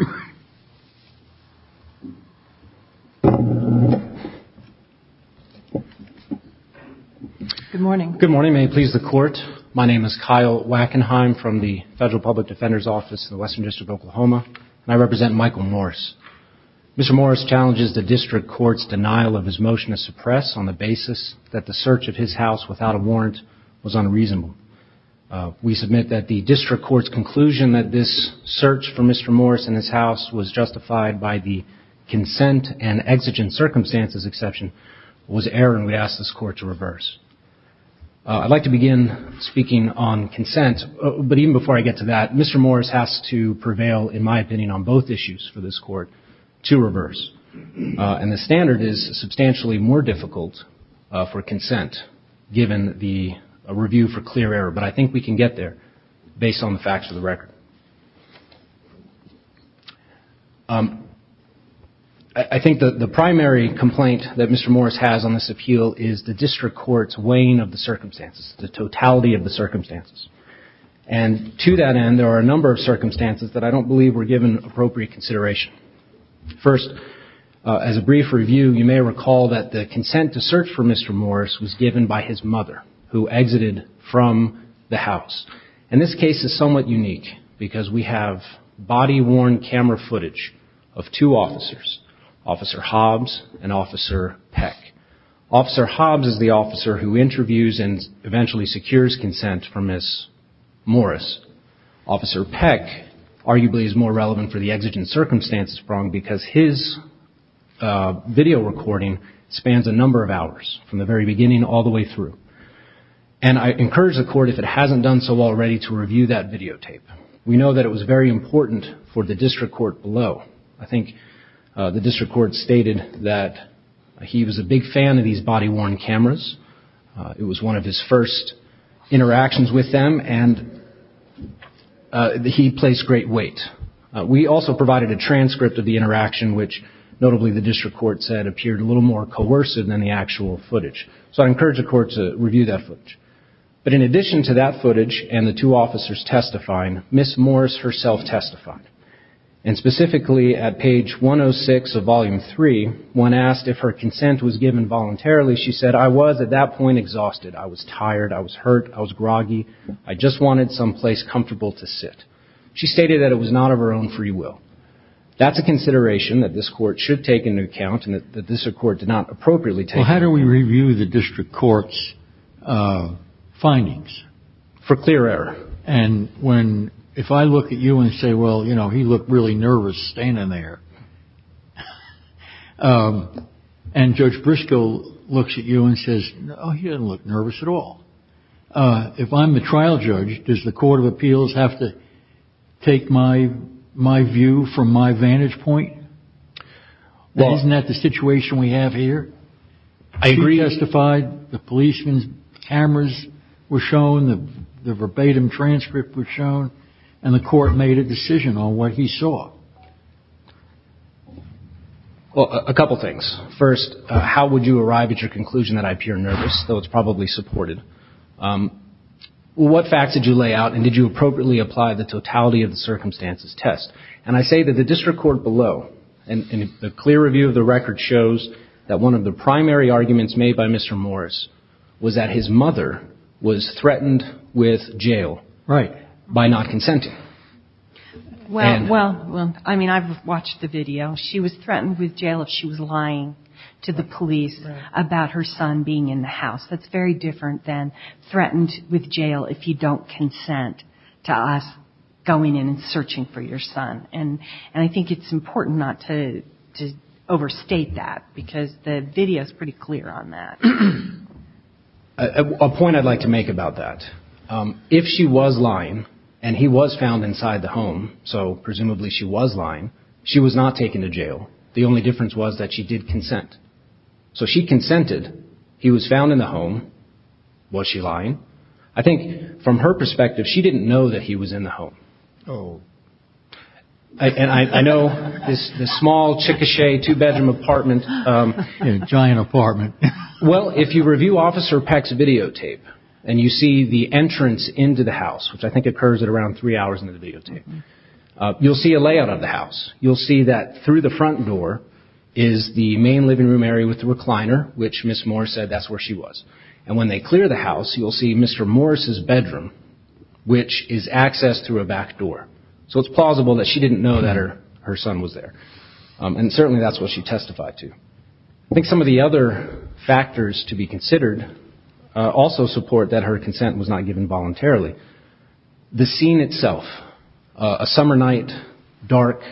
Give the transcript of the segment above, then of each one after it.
Good morning. Good morning. May it please the court. My name is Kyle Wackenheim from the Federal Public Defender's Office in the Western District of Oklahoma, and I represent Michael Morris. Mr. Morris challenges the District Court's denial of his motion to suppress on the basis that the search of his house without a warrant was unreasonable. We submit that the District Court's conclusion that this search for Mr. Morris and his house was justified by the consent and exigent circumstances exception was error, and we ask this court to reverse. I'd like to begin speaking on consent, but even before I get to that, Mr. Morris has to prevail, in my opinion, on both issues for this court to reverse. And the standard is substantially more difficult for consent given the review for clear error, but I think we can get there based on the facts of the record. I think that the primary complaint that Mr. Morris has on this appeal is the District Court's weighing of the circumstances, the totality of the circumstances. And to that end, there are a number of circumstances that I don't believe were given appropriate consideration. First, as a brief review, you may recall that the consent to search for Mr. Morris was given by his mother, who exited from the house. And this case is somewhat unique because we have body-worn camera footage of two officers, Officer Hobbs and Officer Peck. Officer Hobbs is the officer who interviews and eventually secures consent for Ms. Morris. Officer Peck, arguably, is more relevant for the exigent circumstances prong because his video recording spans a number of hours, from the very beginning all the way through. And I encourage the court, if it hasn't done so already, to review that videotape. We know that it was very important for the District Court below. I think the District Court stated that he was a big fan of these body-worn cameras. It was one of his first interactions with them, and he placed great weight. We also provided a transcript of the interaction, which notably the District Court said appeared a little more coercive than the actual footage. So I encourage the court to review that footage. But in addition to that footage and the two officers testifying, Ms. Morris herself testified. And specifically at page 106 of Volume 3, when asked if her consent was given voluntarily, she said, I was at that point exhausted. I was tired. I was hurt. I was groggy. I just wanted some place comfortable to sit. She stated that it was not of her own free will. That's a consideration that this court should take into account and that this court did not appropriately take. Well, how do we review the District Court's findings? For clear error. And when, if I look at you and say, well, you know, he looked really nervous staying in there, and Judge Briscoe looks at you and says, oh, he doesn't look nervous at all. If I'm the trial judge, does the Court of Appeals have to take my view from my vantage point? Isn't that the situation we have here? She testified, the policeman's cameras were shown, the verbatim testimony. Well, a couple things. First, how would you arrive at your conclusion that I appear nervous, though it's probably supported? What facts did you lay out and did you appropriately apply the totality of the circumstances test? And I say that the District Court below, and a clear review of the record shows that one of the primary arguments made by Mr. Morris was that his mother was threatened with jail. Right. By not consenting. Well, I mean, I've watched the video. She was threatened with jail if she was lying to the police about her son being in the house. That's very different than threatened with jail if you don't consent to us going in and searching for your son. And I think it's important not to overstate that because the video is pretty clear on that. A point I'd like to make about that. If she was lying and he was found inside the home, so presumably she was lying, she was not taken to jail. The only difference was that she did consent. So she consented. He was found in the home. Was she lying? I think from her perspective, she didn't know that he was in the home. And I know this small, chicoté, two-bedroom apartment. A giant apartment. Well, if you review Officer Peck's videotape and you see the entrance into the house, which I think occurs at around three hours into the videotape, you'll see a layout of the house. You'll see that through the front door is the main living room area with the recliner, which Miss Morris said that's where she was. And when they clear the house, you'll see Mr. Morris's bedroom, which is accessed through a back door. So it's plausible that she didn't know that her son was there. And certainly that's what she testified to. I think some of the other factors to be considered also support that her consent was not given voluntarily. The scene itself, a summer night, dark.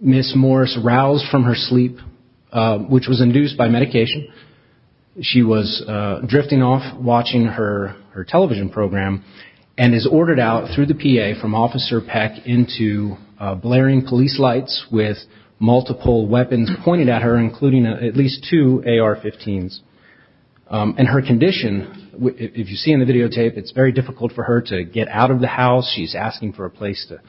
Miss Morris roused from her sleep, which was induced by medication. She was drifting off watching her television program and is ordered out through the PA from Officer Peck into blaring police lights with multiple weapons pointed at her, including at least two AR-15s. And her condition, if you see in the videotape, it's very difficult for her to get out of the house. She's asking for a place to...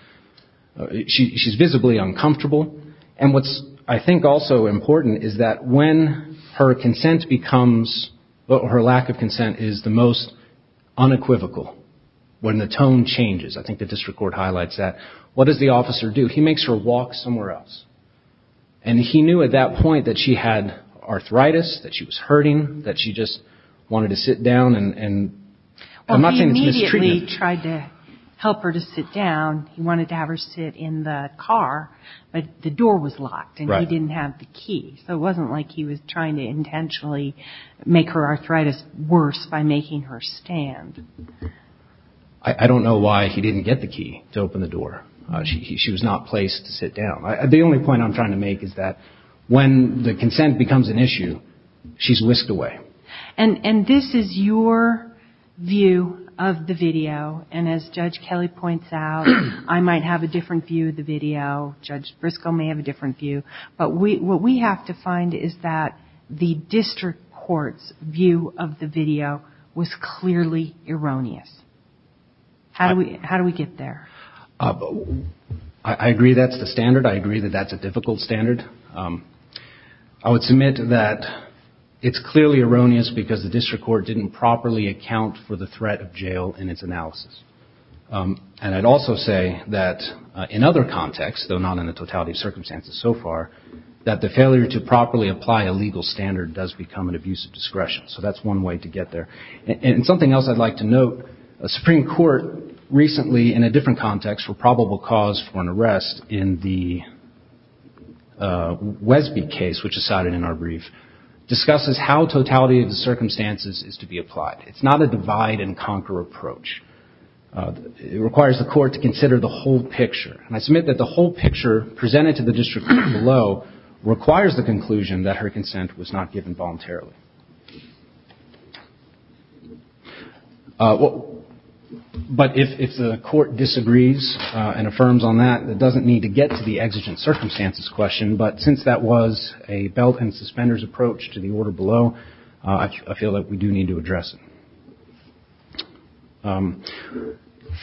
She's visibly uncomfortable. And what's, I think, also important is that when her consent becomes... Her lack of consent is the most unequivocal when the tone changes. I think the district court highlights that. What does the officer do? He makes her walk somewhere else. And he knew at that point that she had arthritis, that she was hurting, that she just wanted to sit down and... I'm not saying it's mistreatment. Well, he immediately tried to help her to sit down. He wanted to have her sit in the car, but the door was locked and he didn't have the key. So it wasn't like he was trying to intentionally make her arthritis worse by making her stand. I don't know why he didn't get the key to open the door. She was not placed to sit down. The only point I'm trying to make is that when the consent becomes an issue, she's whisked away. And this is your view of the video. And as Judge Kelly points out, I might have a different view of the video. Judge Briscoe may have a different view. But what we have to find is that the district court's view of the video was clearly erroneous. How do we get there? I agree that's the standard. I agree that that's a difficult standard. I would submit that it's clearly erroneous because the district court didn't properly account for the threat of jail in its analysis. And I'd also say that in other contexts, though not in the totality of circumstances so far, that the failure to properly apply a legal standard does become an abuse of discretion. So that's one way to get there. And something else I'd like to note, a Supreme Court recently in a different context for probable cause for an arrest in the Wesby case, which is cited in our brief, discusses how totality of the circumstances is applied. It's not a divide and conquer approach. It requires the court to consider the whole picture. And I submit that the whole picture presented to the district court below requires the conclusion that her consent was not given voluntarily. But if the court disagrees and affirms on that, it doesn't need to get to the exigent circumstances question. But since that was a belt and suspenders approach to the order below, I feel that we do need to address it.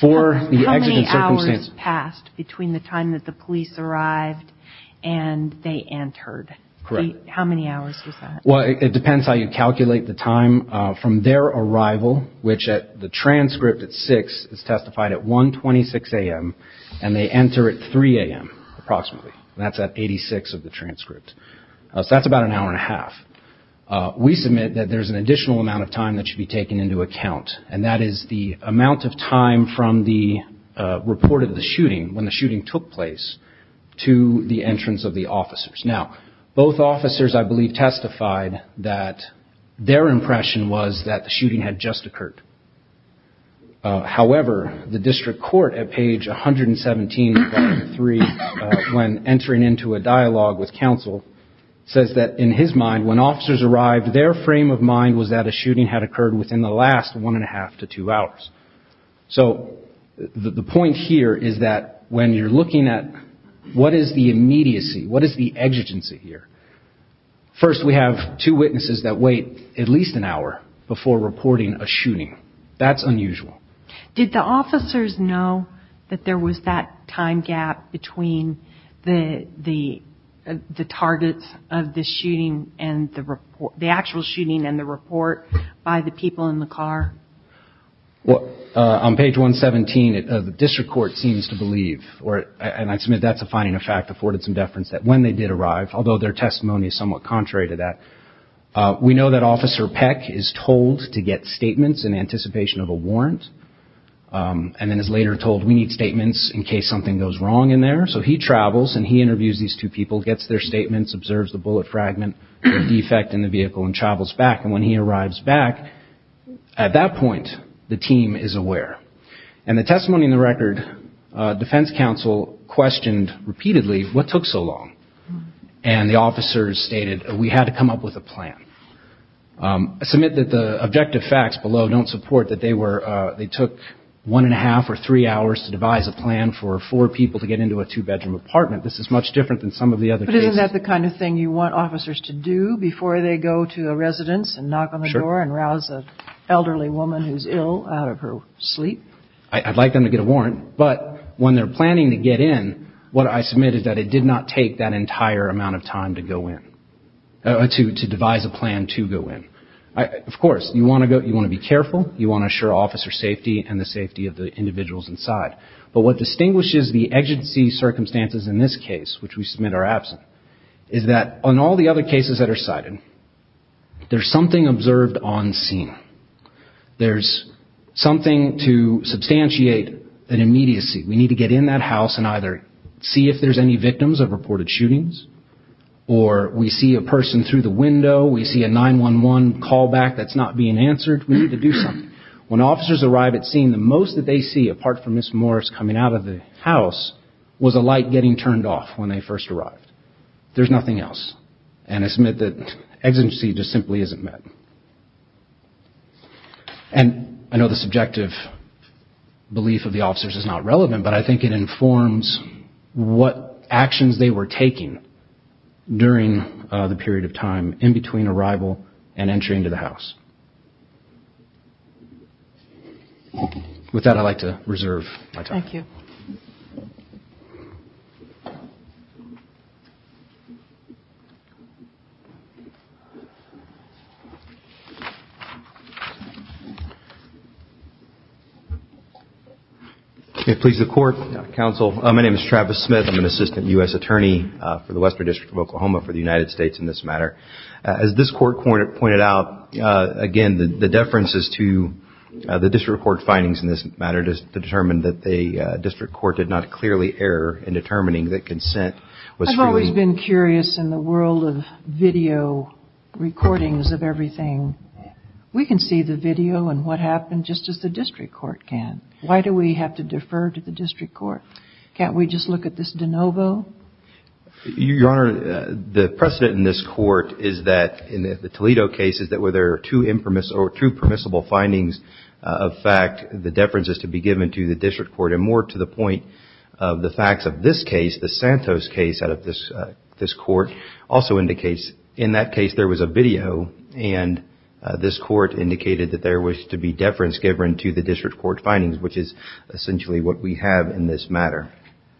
For the exigent circumstances... How many hours passed between the time that the police arrived and they entered? Correct. How many hours was that? Well, it depends how you calculate the time from their arrival, which at the transcript at 6 is testified at 1.26 a.m. and they enter at 3 a.m. approximately. That's at 86 of the transcript. That's about an hour and a half. We submit that there's an additional amount of time that should be taken into account, and that is the amount of time from the report of the shooting, when the shooting took place, to the entrance of the officers. Now, both officers, I believe, testified that their impression was that the shooting had just occurred. However, the district court at page 117.3, when entering into a dialogue with counsel, says that in his mind, when officers arrived, their frame of mind was that a shooting had occurred within the last one and a half to two hours. So the point here is that when you're looking at what is the immediacy, what is the exigency here? First, we have two witnesses that wait at least an hour before reporting a shooting. That's unusual. Did the officers know that there was that time gap between the targets of the shooting and the report, the actual shooting and the report, by the people in the car? Well, on page 117, the district court seems to believe, and I submit that's a finding of fact, afforded some deference, that when they did arrive, although their testimony is somewhat contrary to that, we know that Officer Peck is told to get statements in anticipation of warrant, and then is later told we need statements in case something goes wrong in there. So he travels and he interviews these two people, gets their statements, observes the bullet fragment, the defect in the vehicle, and travels back. And when he arrives back, at that point, the team is aware. And the testimony in the record, defense counsel questioned repeatedly, what took so long? And the officers stated, we had to come up with a plan. I submit that the objective facts below don't support that they took one and a half or three hours to devise a plan for four people to get into a two-bedroom apartment. This is much different than some of the other cases. But isn't that the kind of thing you want officers to do before they go to a residence and knock on the door and rouse an elderly woman who's ill out of her sleep? I'd like them to get a warrant. But when they're planning to get in, what I submit is that it did not take that entire amount of time to devise a plan to go in. Of course, you want to be careful. You want to assure officer safety and the safety of the individuals inside. But what distinguishes the agency circumstances in this case, which we submit are absent, is that on all the other cases that are cited, there's something observed on scene. There's something to substantiate an immediacy. We need to get in that house and either see if there's any victims of reported shootings, or we see a person through the window, we see a 911 callback that's not being answered, we need to do something. When officers arrive at scene, the most that they see, apart from Ms. Morris coming out of the house, was a light getting turned off when they first arrived. There's nothing else. And I submit that exigency just simply isn't met. And I know the subjective belief of the officers is not relevant, but I think it informs what actions they were taking during the period of time in between arrival and entry into the house. With that, I'd like to reserve my time. Thank you. Okay. Please, the court, counsel. My name is Travis Smith. I'm an assistant U.S. attorney for the Western District of Oklahoma for the United States in this matter. As this court pointed out, again, the deference is to the district court findings in this matter to determine that the district court did not clearly err in determining that consent was free. I've always been curious in the world of video recordings of everything, we can see the video and what happened just as the district court can. Why do we have to defer to the district court? Can't we just look at this de novo? Your Honor, the precedent in this court is that in the Toledo case is that where there are two permissible findings of fact, the deference is to be given to the district court and more to the point of the facts of this case, the Santos case out of this court also indicates in that case, there was a video and this court indicated that there was to be deference given to the district court findings, which is essentially what we have in this matter.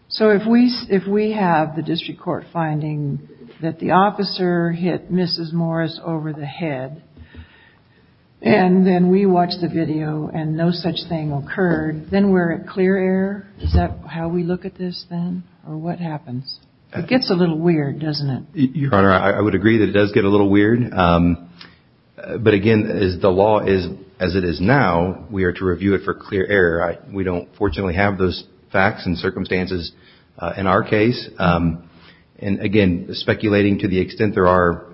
So if we have the district court finding that the officer hit Mrs. Morris over the head, and then we watched the video and no such thing occurred, then we're at clear error? Is that how we look at this then or what happens? It gets a little weird, doesn't it? Your Honor, I would agree that it does get a little weird. But again, as the law is, as it is now, we are to review it for clear error. We don't fortunately have those facts and circumstances in our case. And again, speculating to the extent there are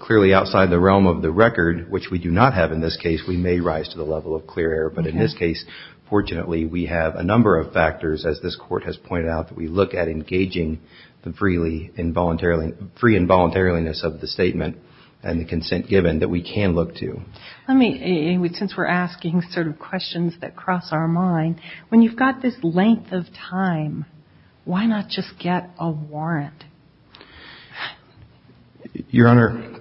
clearly outside the realm of the record, which we do not have in this case, we may rise to the level of clear error. But in this case, fortunately, we have a number of factors as this court has pointed out that we look at engaging the free involuntariliness of the statement and the consent given that we can look to. Let me, since we're asking sort of questions that cross our mind, when you've got this length of time, why not just get a warrant? Your Honor,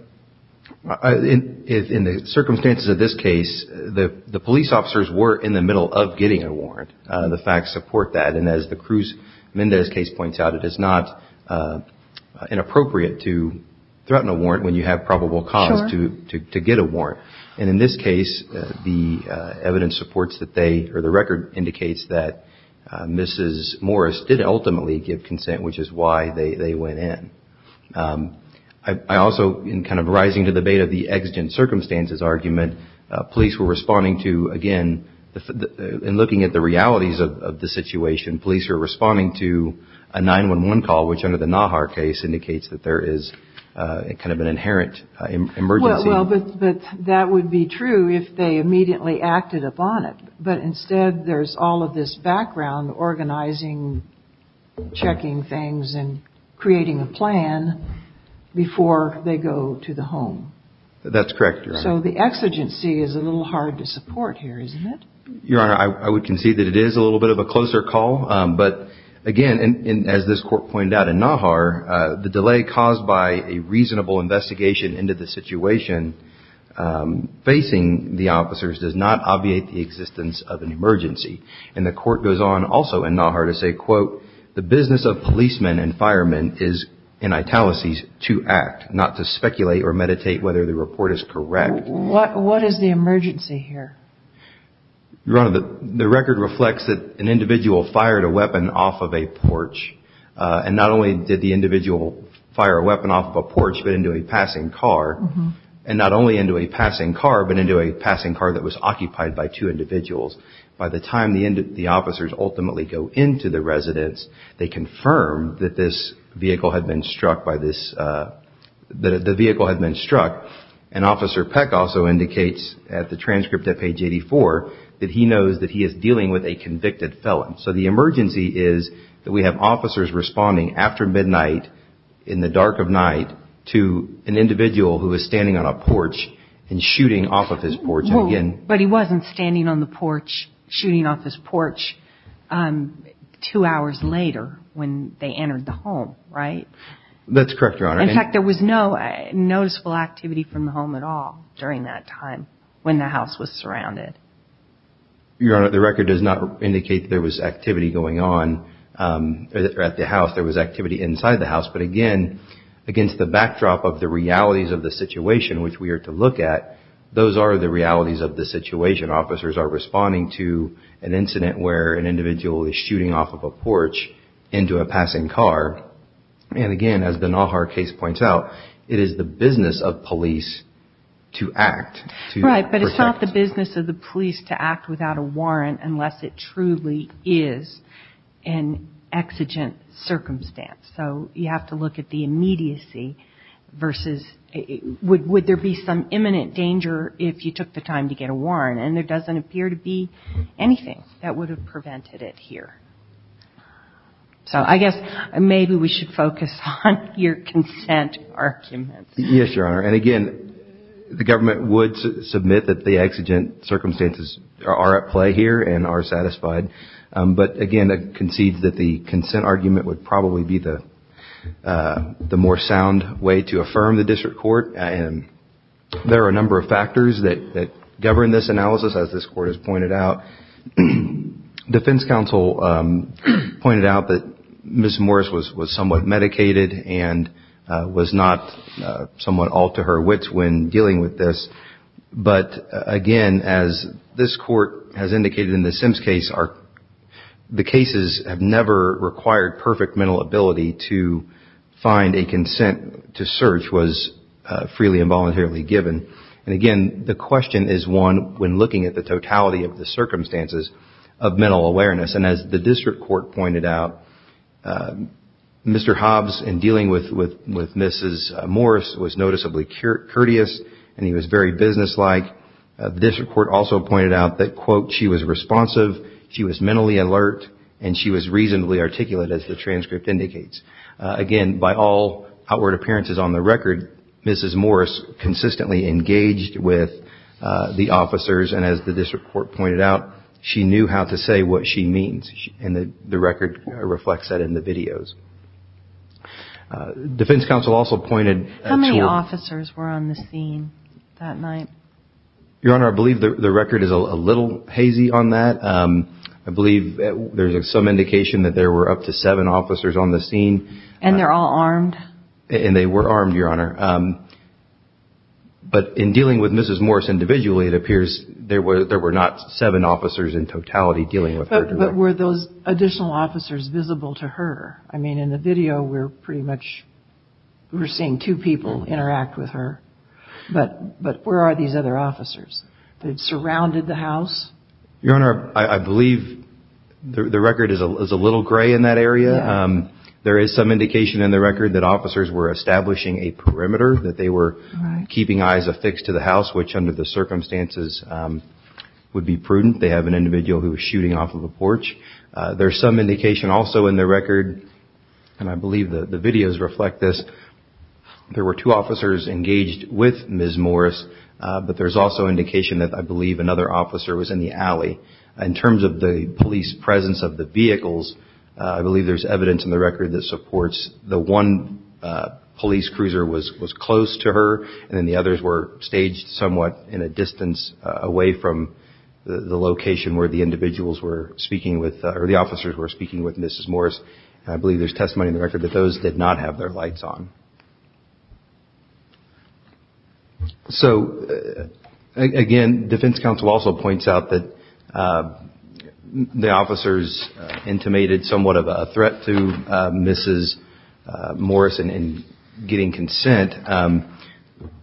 in the circumstances of this case, the police officers were in the middle of getting a warrant. The facts support that. And as the Cruz-Mendez case points out, it is not inappropriate to threaten a warrant when you have probable cause to get a warrant. And in this case, the evidence supports that they or the record indicates that Mrs. Morris did ultimately give consent, which is why they went in. I also, in kind of rising to the bait of the exigent circumstances argument, police were responding to, again, in looking at the realities of the situation, police were responding to a 911 call, which under the Nahar case indicates that there is kind of an inherent emergency. Well, but that would be true if they immediately acted on it. But instead, there's all of this background organizing, checking things, and creating a plan before they go to the home. That's correct, Your Honor. So the exigency is a little hard to support here, isn't it? Your Honor, I would concede that it is a little bit of a closer call. But again, as this Court pointed out in Nahar, the delay caused by a reasonable investigation into the situation facing the officers does not obviate the existence of an emergency. And the Court goes on also in Nahar to say, quote, the business of policemen and firemen is in italicies to act, not to speculate or meditate whether the report is correct. What is the emergency here? Your Honor, the record reflects that an individual fired a weapon off of a porch. And not only did the individual fire a weapon off of a porch, but into a passing car. And not only into a passing car, but into a passing car that was occupied by two individuals. By the time the officers ultimately go into the residence, they confirm that the vehicle had been struck. And Officer Peck also indicates at the transcript at page 84 that he knows that he is dealing with a convicted felon. So the emergency is that we to an individual who was standing on a porch and shooting off of his porch. Well, but he wasn't standing on the porch, shooting off his porch two hours later when they entered the home, right? That's correct, Your Honor. In fact, there was no noticeable activity from the home at all during that time when the house was surrounded. Your Honor, the record does not indicate that there was activity going on at the house. There was activity inside the house. But again, against the backdrop of the realities of the situation which we are to look at, those are the realities of the situation. Officers are responding to an incident where an individual is shooting off of a porch into a passing car. And again, as the Nahar case points out, it is the business of police to act. Right, but it's not the business of the police to act without a warrant unless it truly is an exigent circumstance. So you have to look at the immediacy versus would there be some imminent danger if you took the time to get a warrant? And there doesn't appear to be anything that would have prevented it here. So I guess maybe we should focus on your consent arguments. Yes, Your Honor. And again, the government would submit that the exigent circumstances are at play here and are satisfied. But again, it concedes that the consent argument would probably be the more sound way to affirm the district court. And there are a number of factors that govern this analysis, as this Court has pointed out. Defense counsel pointed out that Ms. Morris was somewhat medicated and was not somewhat all to her wits when dealing with this. But again, as this Court has indicated in the Sims case, the cases have never required perfect mental ability to find a consent to search was freely and voluntarily given. And again, the question is one when looking at the totality of the circumstances of mental awareness. And as the district court pointed out, Mr. Hobbs in dealing with Ms. Morris was noticeably courteous and he was very businesslike. The district court also pointed out that, quote, she was responsive, she was mentally alert, and she was reasonably articulate, as the transcript indicates. Again, by all outward appearances on the record, Ms. Morris consistently engaged with the officers. And as the district court pointed out, she knew how to say what she means. And the record reflects that in the videos. Defense counsel also pointed to- How many officers were on the scene that night? Your Honor, I believe the record is a little hazy on that. I believe there's some indication that there were up to seven officers on the scene. And they're all armed? And they were armed, Your Honor. But in dealing with Mrs. Morris individually, it appears there were not seven officers in totality dealing with her. But were those additional officers visible to her? I mean, in the video, we're pretty sure there were two people interact with her. But where are these other officers? They've surrounded the house? Your Honor, I believe the record is a little gray in that area. There is some indication in the record that officers were establishing a perimeter, that they were keeping eyes affixed to the house, which under the circumstances would be prudent. They have an individual who was shooting off of a porch. There's some indication also in the record, and I believe there were two officers engaged with Mrs. Morris, but there's also indication that I believe another officer was in the alley. In terms of the police presence of the vehicles, I believe there's evidence in the record that supports the one police cruiser was close to her, and then the others were staged somewhat in a distance away from the location where the individuals were speaking with, or the officers were speaking with Mrs. Morris. I believe there's testimony in the record that those did not have their lights on. So, again, defense counsel also points out that the officers intimated somewhat of a threat to Mrs. Morris in getting consent.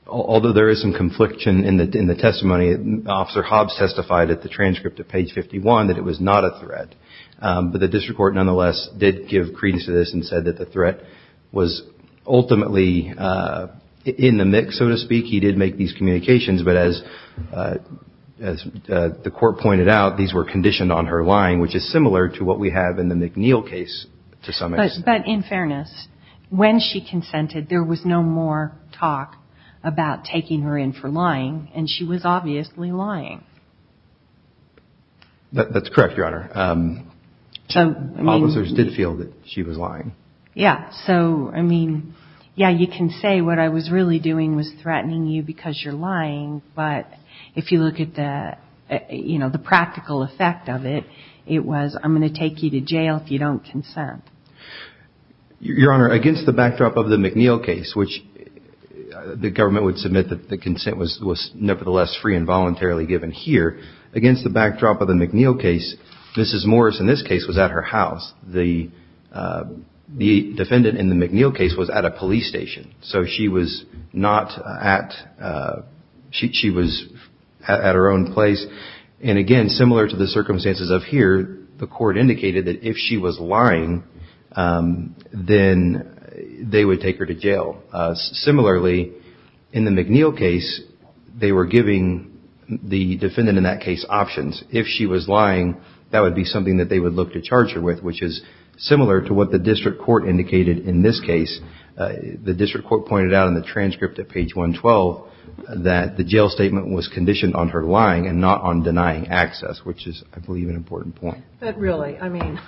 Although there is some confliction in the testimony, Officer Hobbs testified at the transcript of page 51 that it was not a threat. But the district court nonetheless did give credence to this and said that the threat was ultimately in the mix, so to speak. He did make these communications, but as the court pointed out, these were conditioned on her lying, which is similar to what we have in the McNeil case to some extent. But in fairness, when she consented, there was no more talk about taking her in for lying, and she was obviously lying. That's correct, Your Honor. Officers did feel that she was lying. Yeah. So, I mean, yeah, you can say what I was really doing was threatening you because you're lying, but if you look at the practical effect of it, it was, I'm going to take you to jail if you don't consent. Your Honor, against the backdrop of the McNeil case, which the government would submit that the consent was nevertheless free and voluntarily given here, against the backdrop of the McNeil case, Mrs. Morris in this case was at her house. The defendant in the McNeil case was at a police station. So she was not at, she was at her own place. And again, similar to the circumstances of here, the court indicated that if she was lying, then they would take her to jail. Similarly, in the McNeil case, they were giving the defendant in that case options. If she was lying, that would be something that they would look to charge her with, which is similar to what the district court indicated in this case. The district court pointed out in the transcript at page 112 that the jail statement was conditioned on her lying and not on denying access, which is, I believe, an important point. But really, I mean,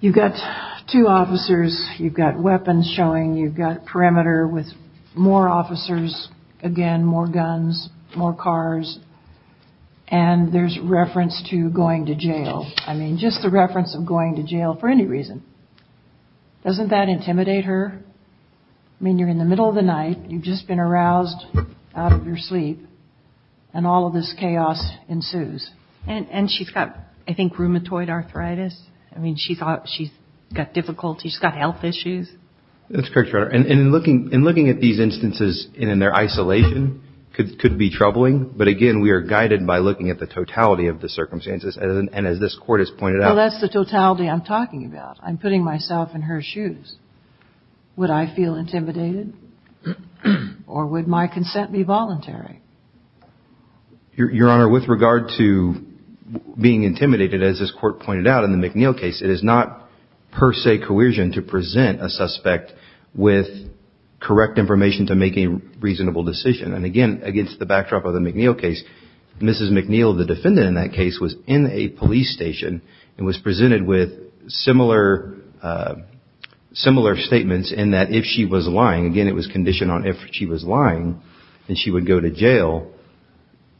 you've got two officers, you've got weapons showing, you've got perimeter with more officers, again, more guns, more cars, and there's reference to going to jail. I mean, just the reference of going to jail for any reason. Doesn't that intimidate her? I mean, you're in the middle of the night, you've just been aroused out of your sleep, and all of this chaos ensues. And she's got, I think, rheumatoid arthritis. I mean, she's got difficulties, she's got health issues. That's correct, Your Honor. And in looking at these instances in their isolation could be troubling, but again, we are guided by looking at the totality of the circumstances. And as this Court has pointed out. Well, that's the totality I'm talking about. I'm putting myself in her shoes. Would I feel intimidated? Or would my consent be voluntary? Your Honor, with regard to being intimidated, as this Court pointed out in the McNeil case, it is not per se coercion to present a suspect with correct information to make a reasonable decision. And again, against the backdrop of the McNeil case, Mrs. McNeil, the defendant in that case, was in a police station and was presented with similar statements in that if she was lying, again, it was conditioned on if she was lying, then she would go to jail.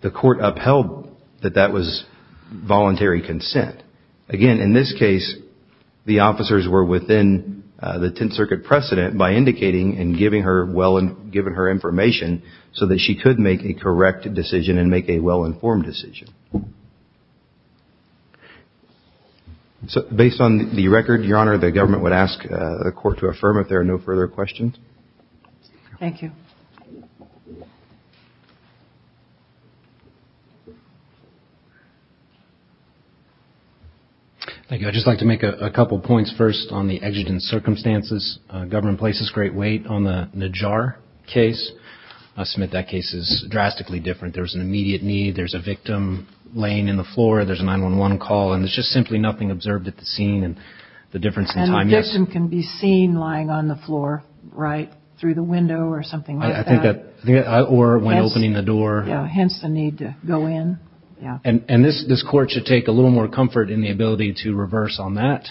The Court upheld that that was voluntary consent. Again, in this case, the officers were within the Tenth Circuit precedent by indicating and giving her information so that she could make a correct decision and make a well-informed decision. So based on the record, Your Honor, the government would ask the Court to affirm if there are no further questions. Thank you. Thank you. I'd just like to make a couple of points first on the exigent circumstances. Government places great weight on the Najjar case. Smith, that case is drastically different. There was an immediate need. There's a victim laying in the floor. There's a 911 call. And there's just simply nothing observed at the scene and the difference in time. And the victim can be seen lying on the floor right through the window or something like that. I think that, or when opening the door. Hence the need to go in. And this Court should take a little more comfort in the ability to reverse on that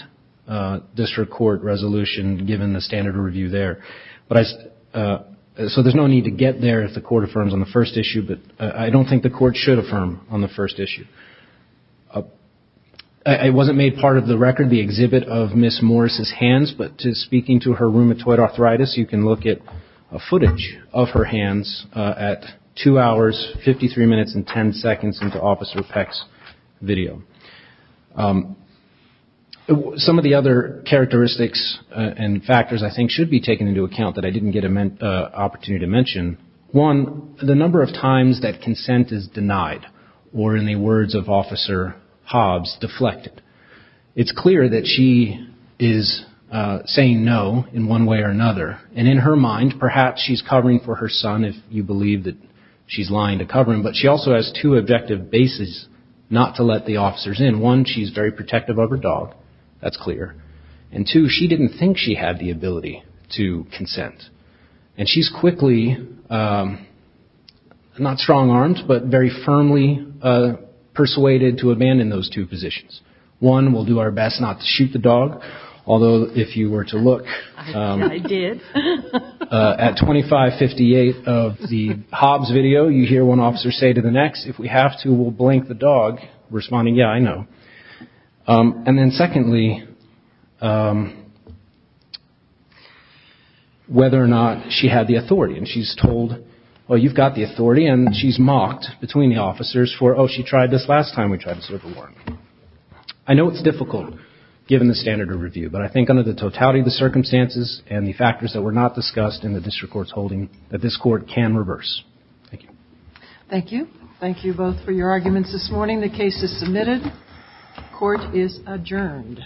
court resolution given the standard review there. So there's no need to get there if the Court affirms on the first issue. But I don't think the Court should affirm on the first issue. It wasn't made part of the record, the exhibit of Ms. Morris's hands. But speaking to her rheumatoid arthritis, you can look at a footage of her hands at two hours, 53 minutes and 10 seconds into Officer Peck's video. Some of the other characteristics and factors, I think, should be taken into account that I didn't get an opportunity to mention. One, the number of times that consent is denied, or in the words of Officer Hobbs, deflected. It's clear that she is saying no in one way or another. And in her mind, perhaps she's covering for her son if you believe that she's lying to cover him. One, she's very protective of her dog. That's clear. And two, she didn't think she had the ability to consent. And she's quickly, not strong-armed, but very firmly persuaded to abandon those two positions. One, we'll do our best not to shoot the dog. Although, if you were to look at 2558 of the Hobbs video, you hear one officer say to the And then secondly, whether or not she had the authority. And she's told, well, you've got the authority. And she's mocked between the officers for, oh, she tried this last time we tried to serve a warrant. I know it's difficult, given the standard of review. But I think under the totality of the circumstances and the factors that were not discussed in the district court's holding, that this court can reverse. Thank you. Thank you. Thank you both for your arguments this morning. The case is submitted. Court is adjourned.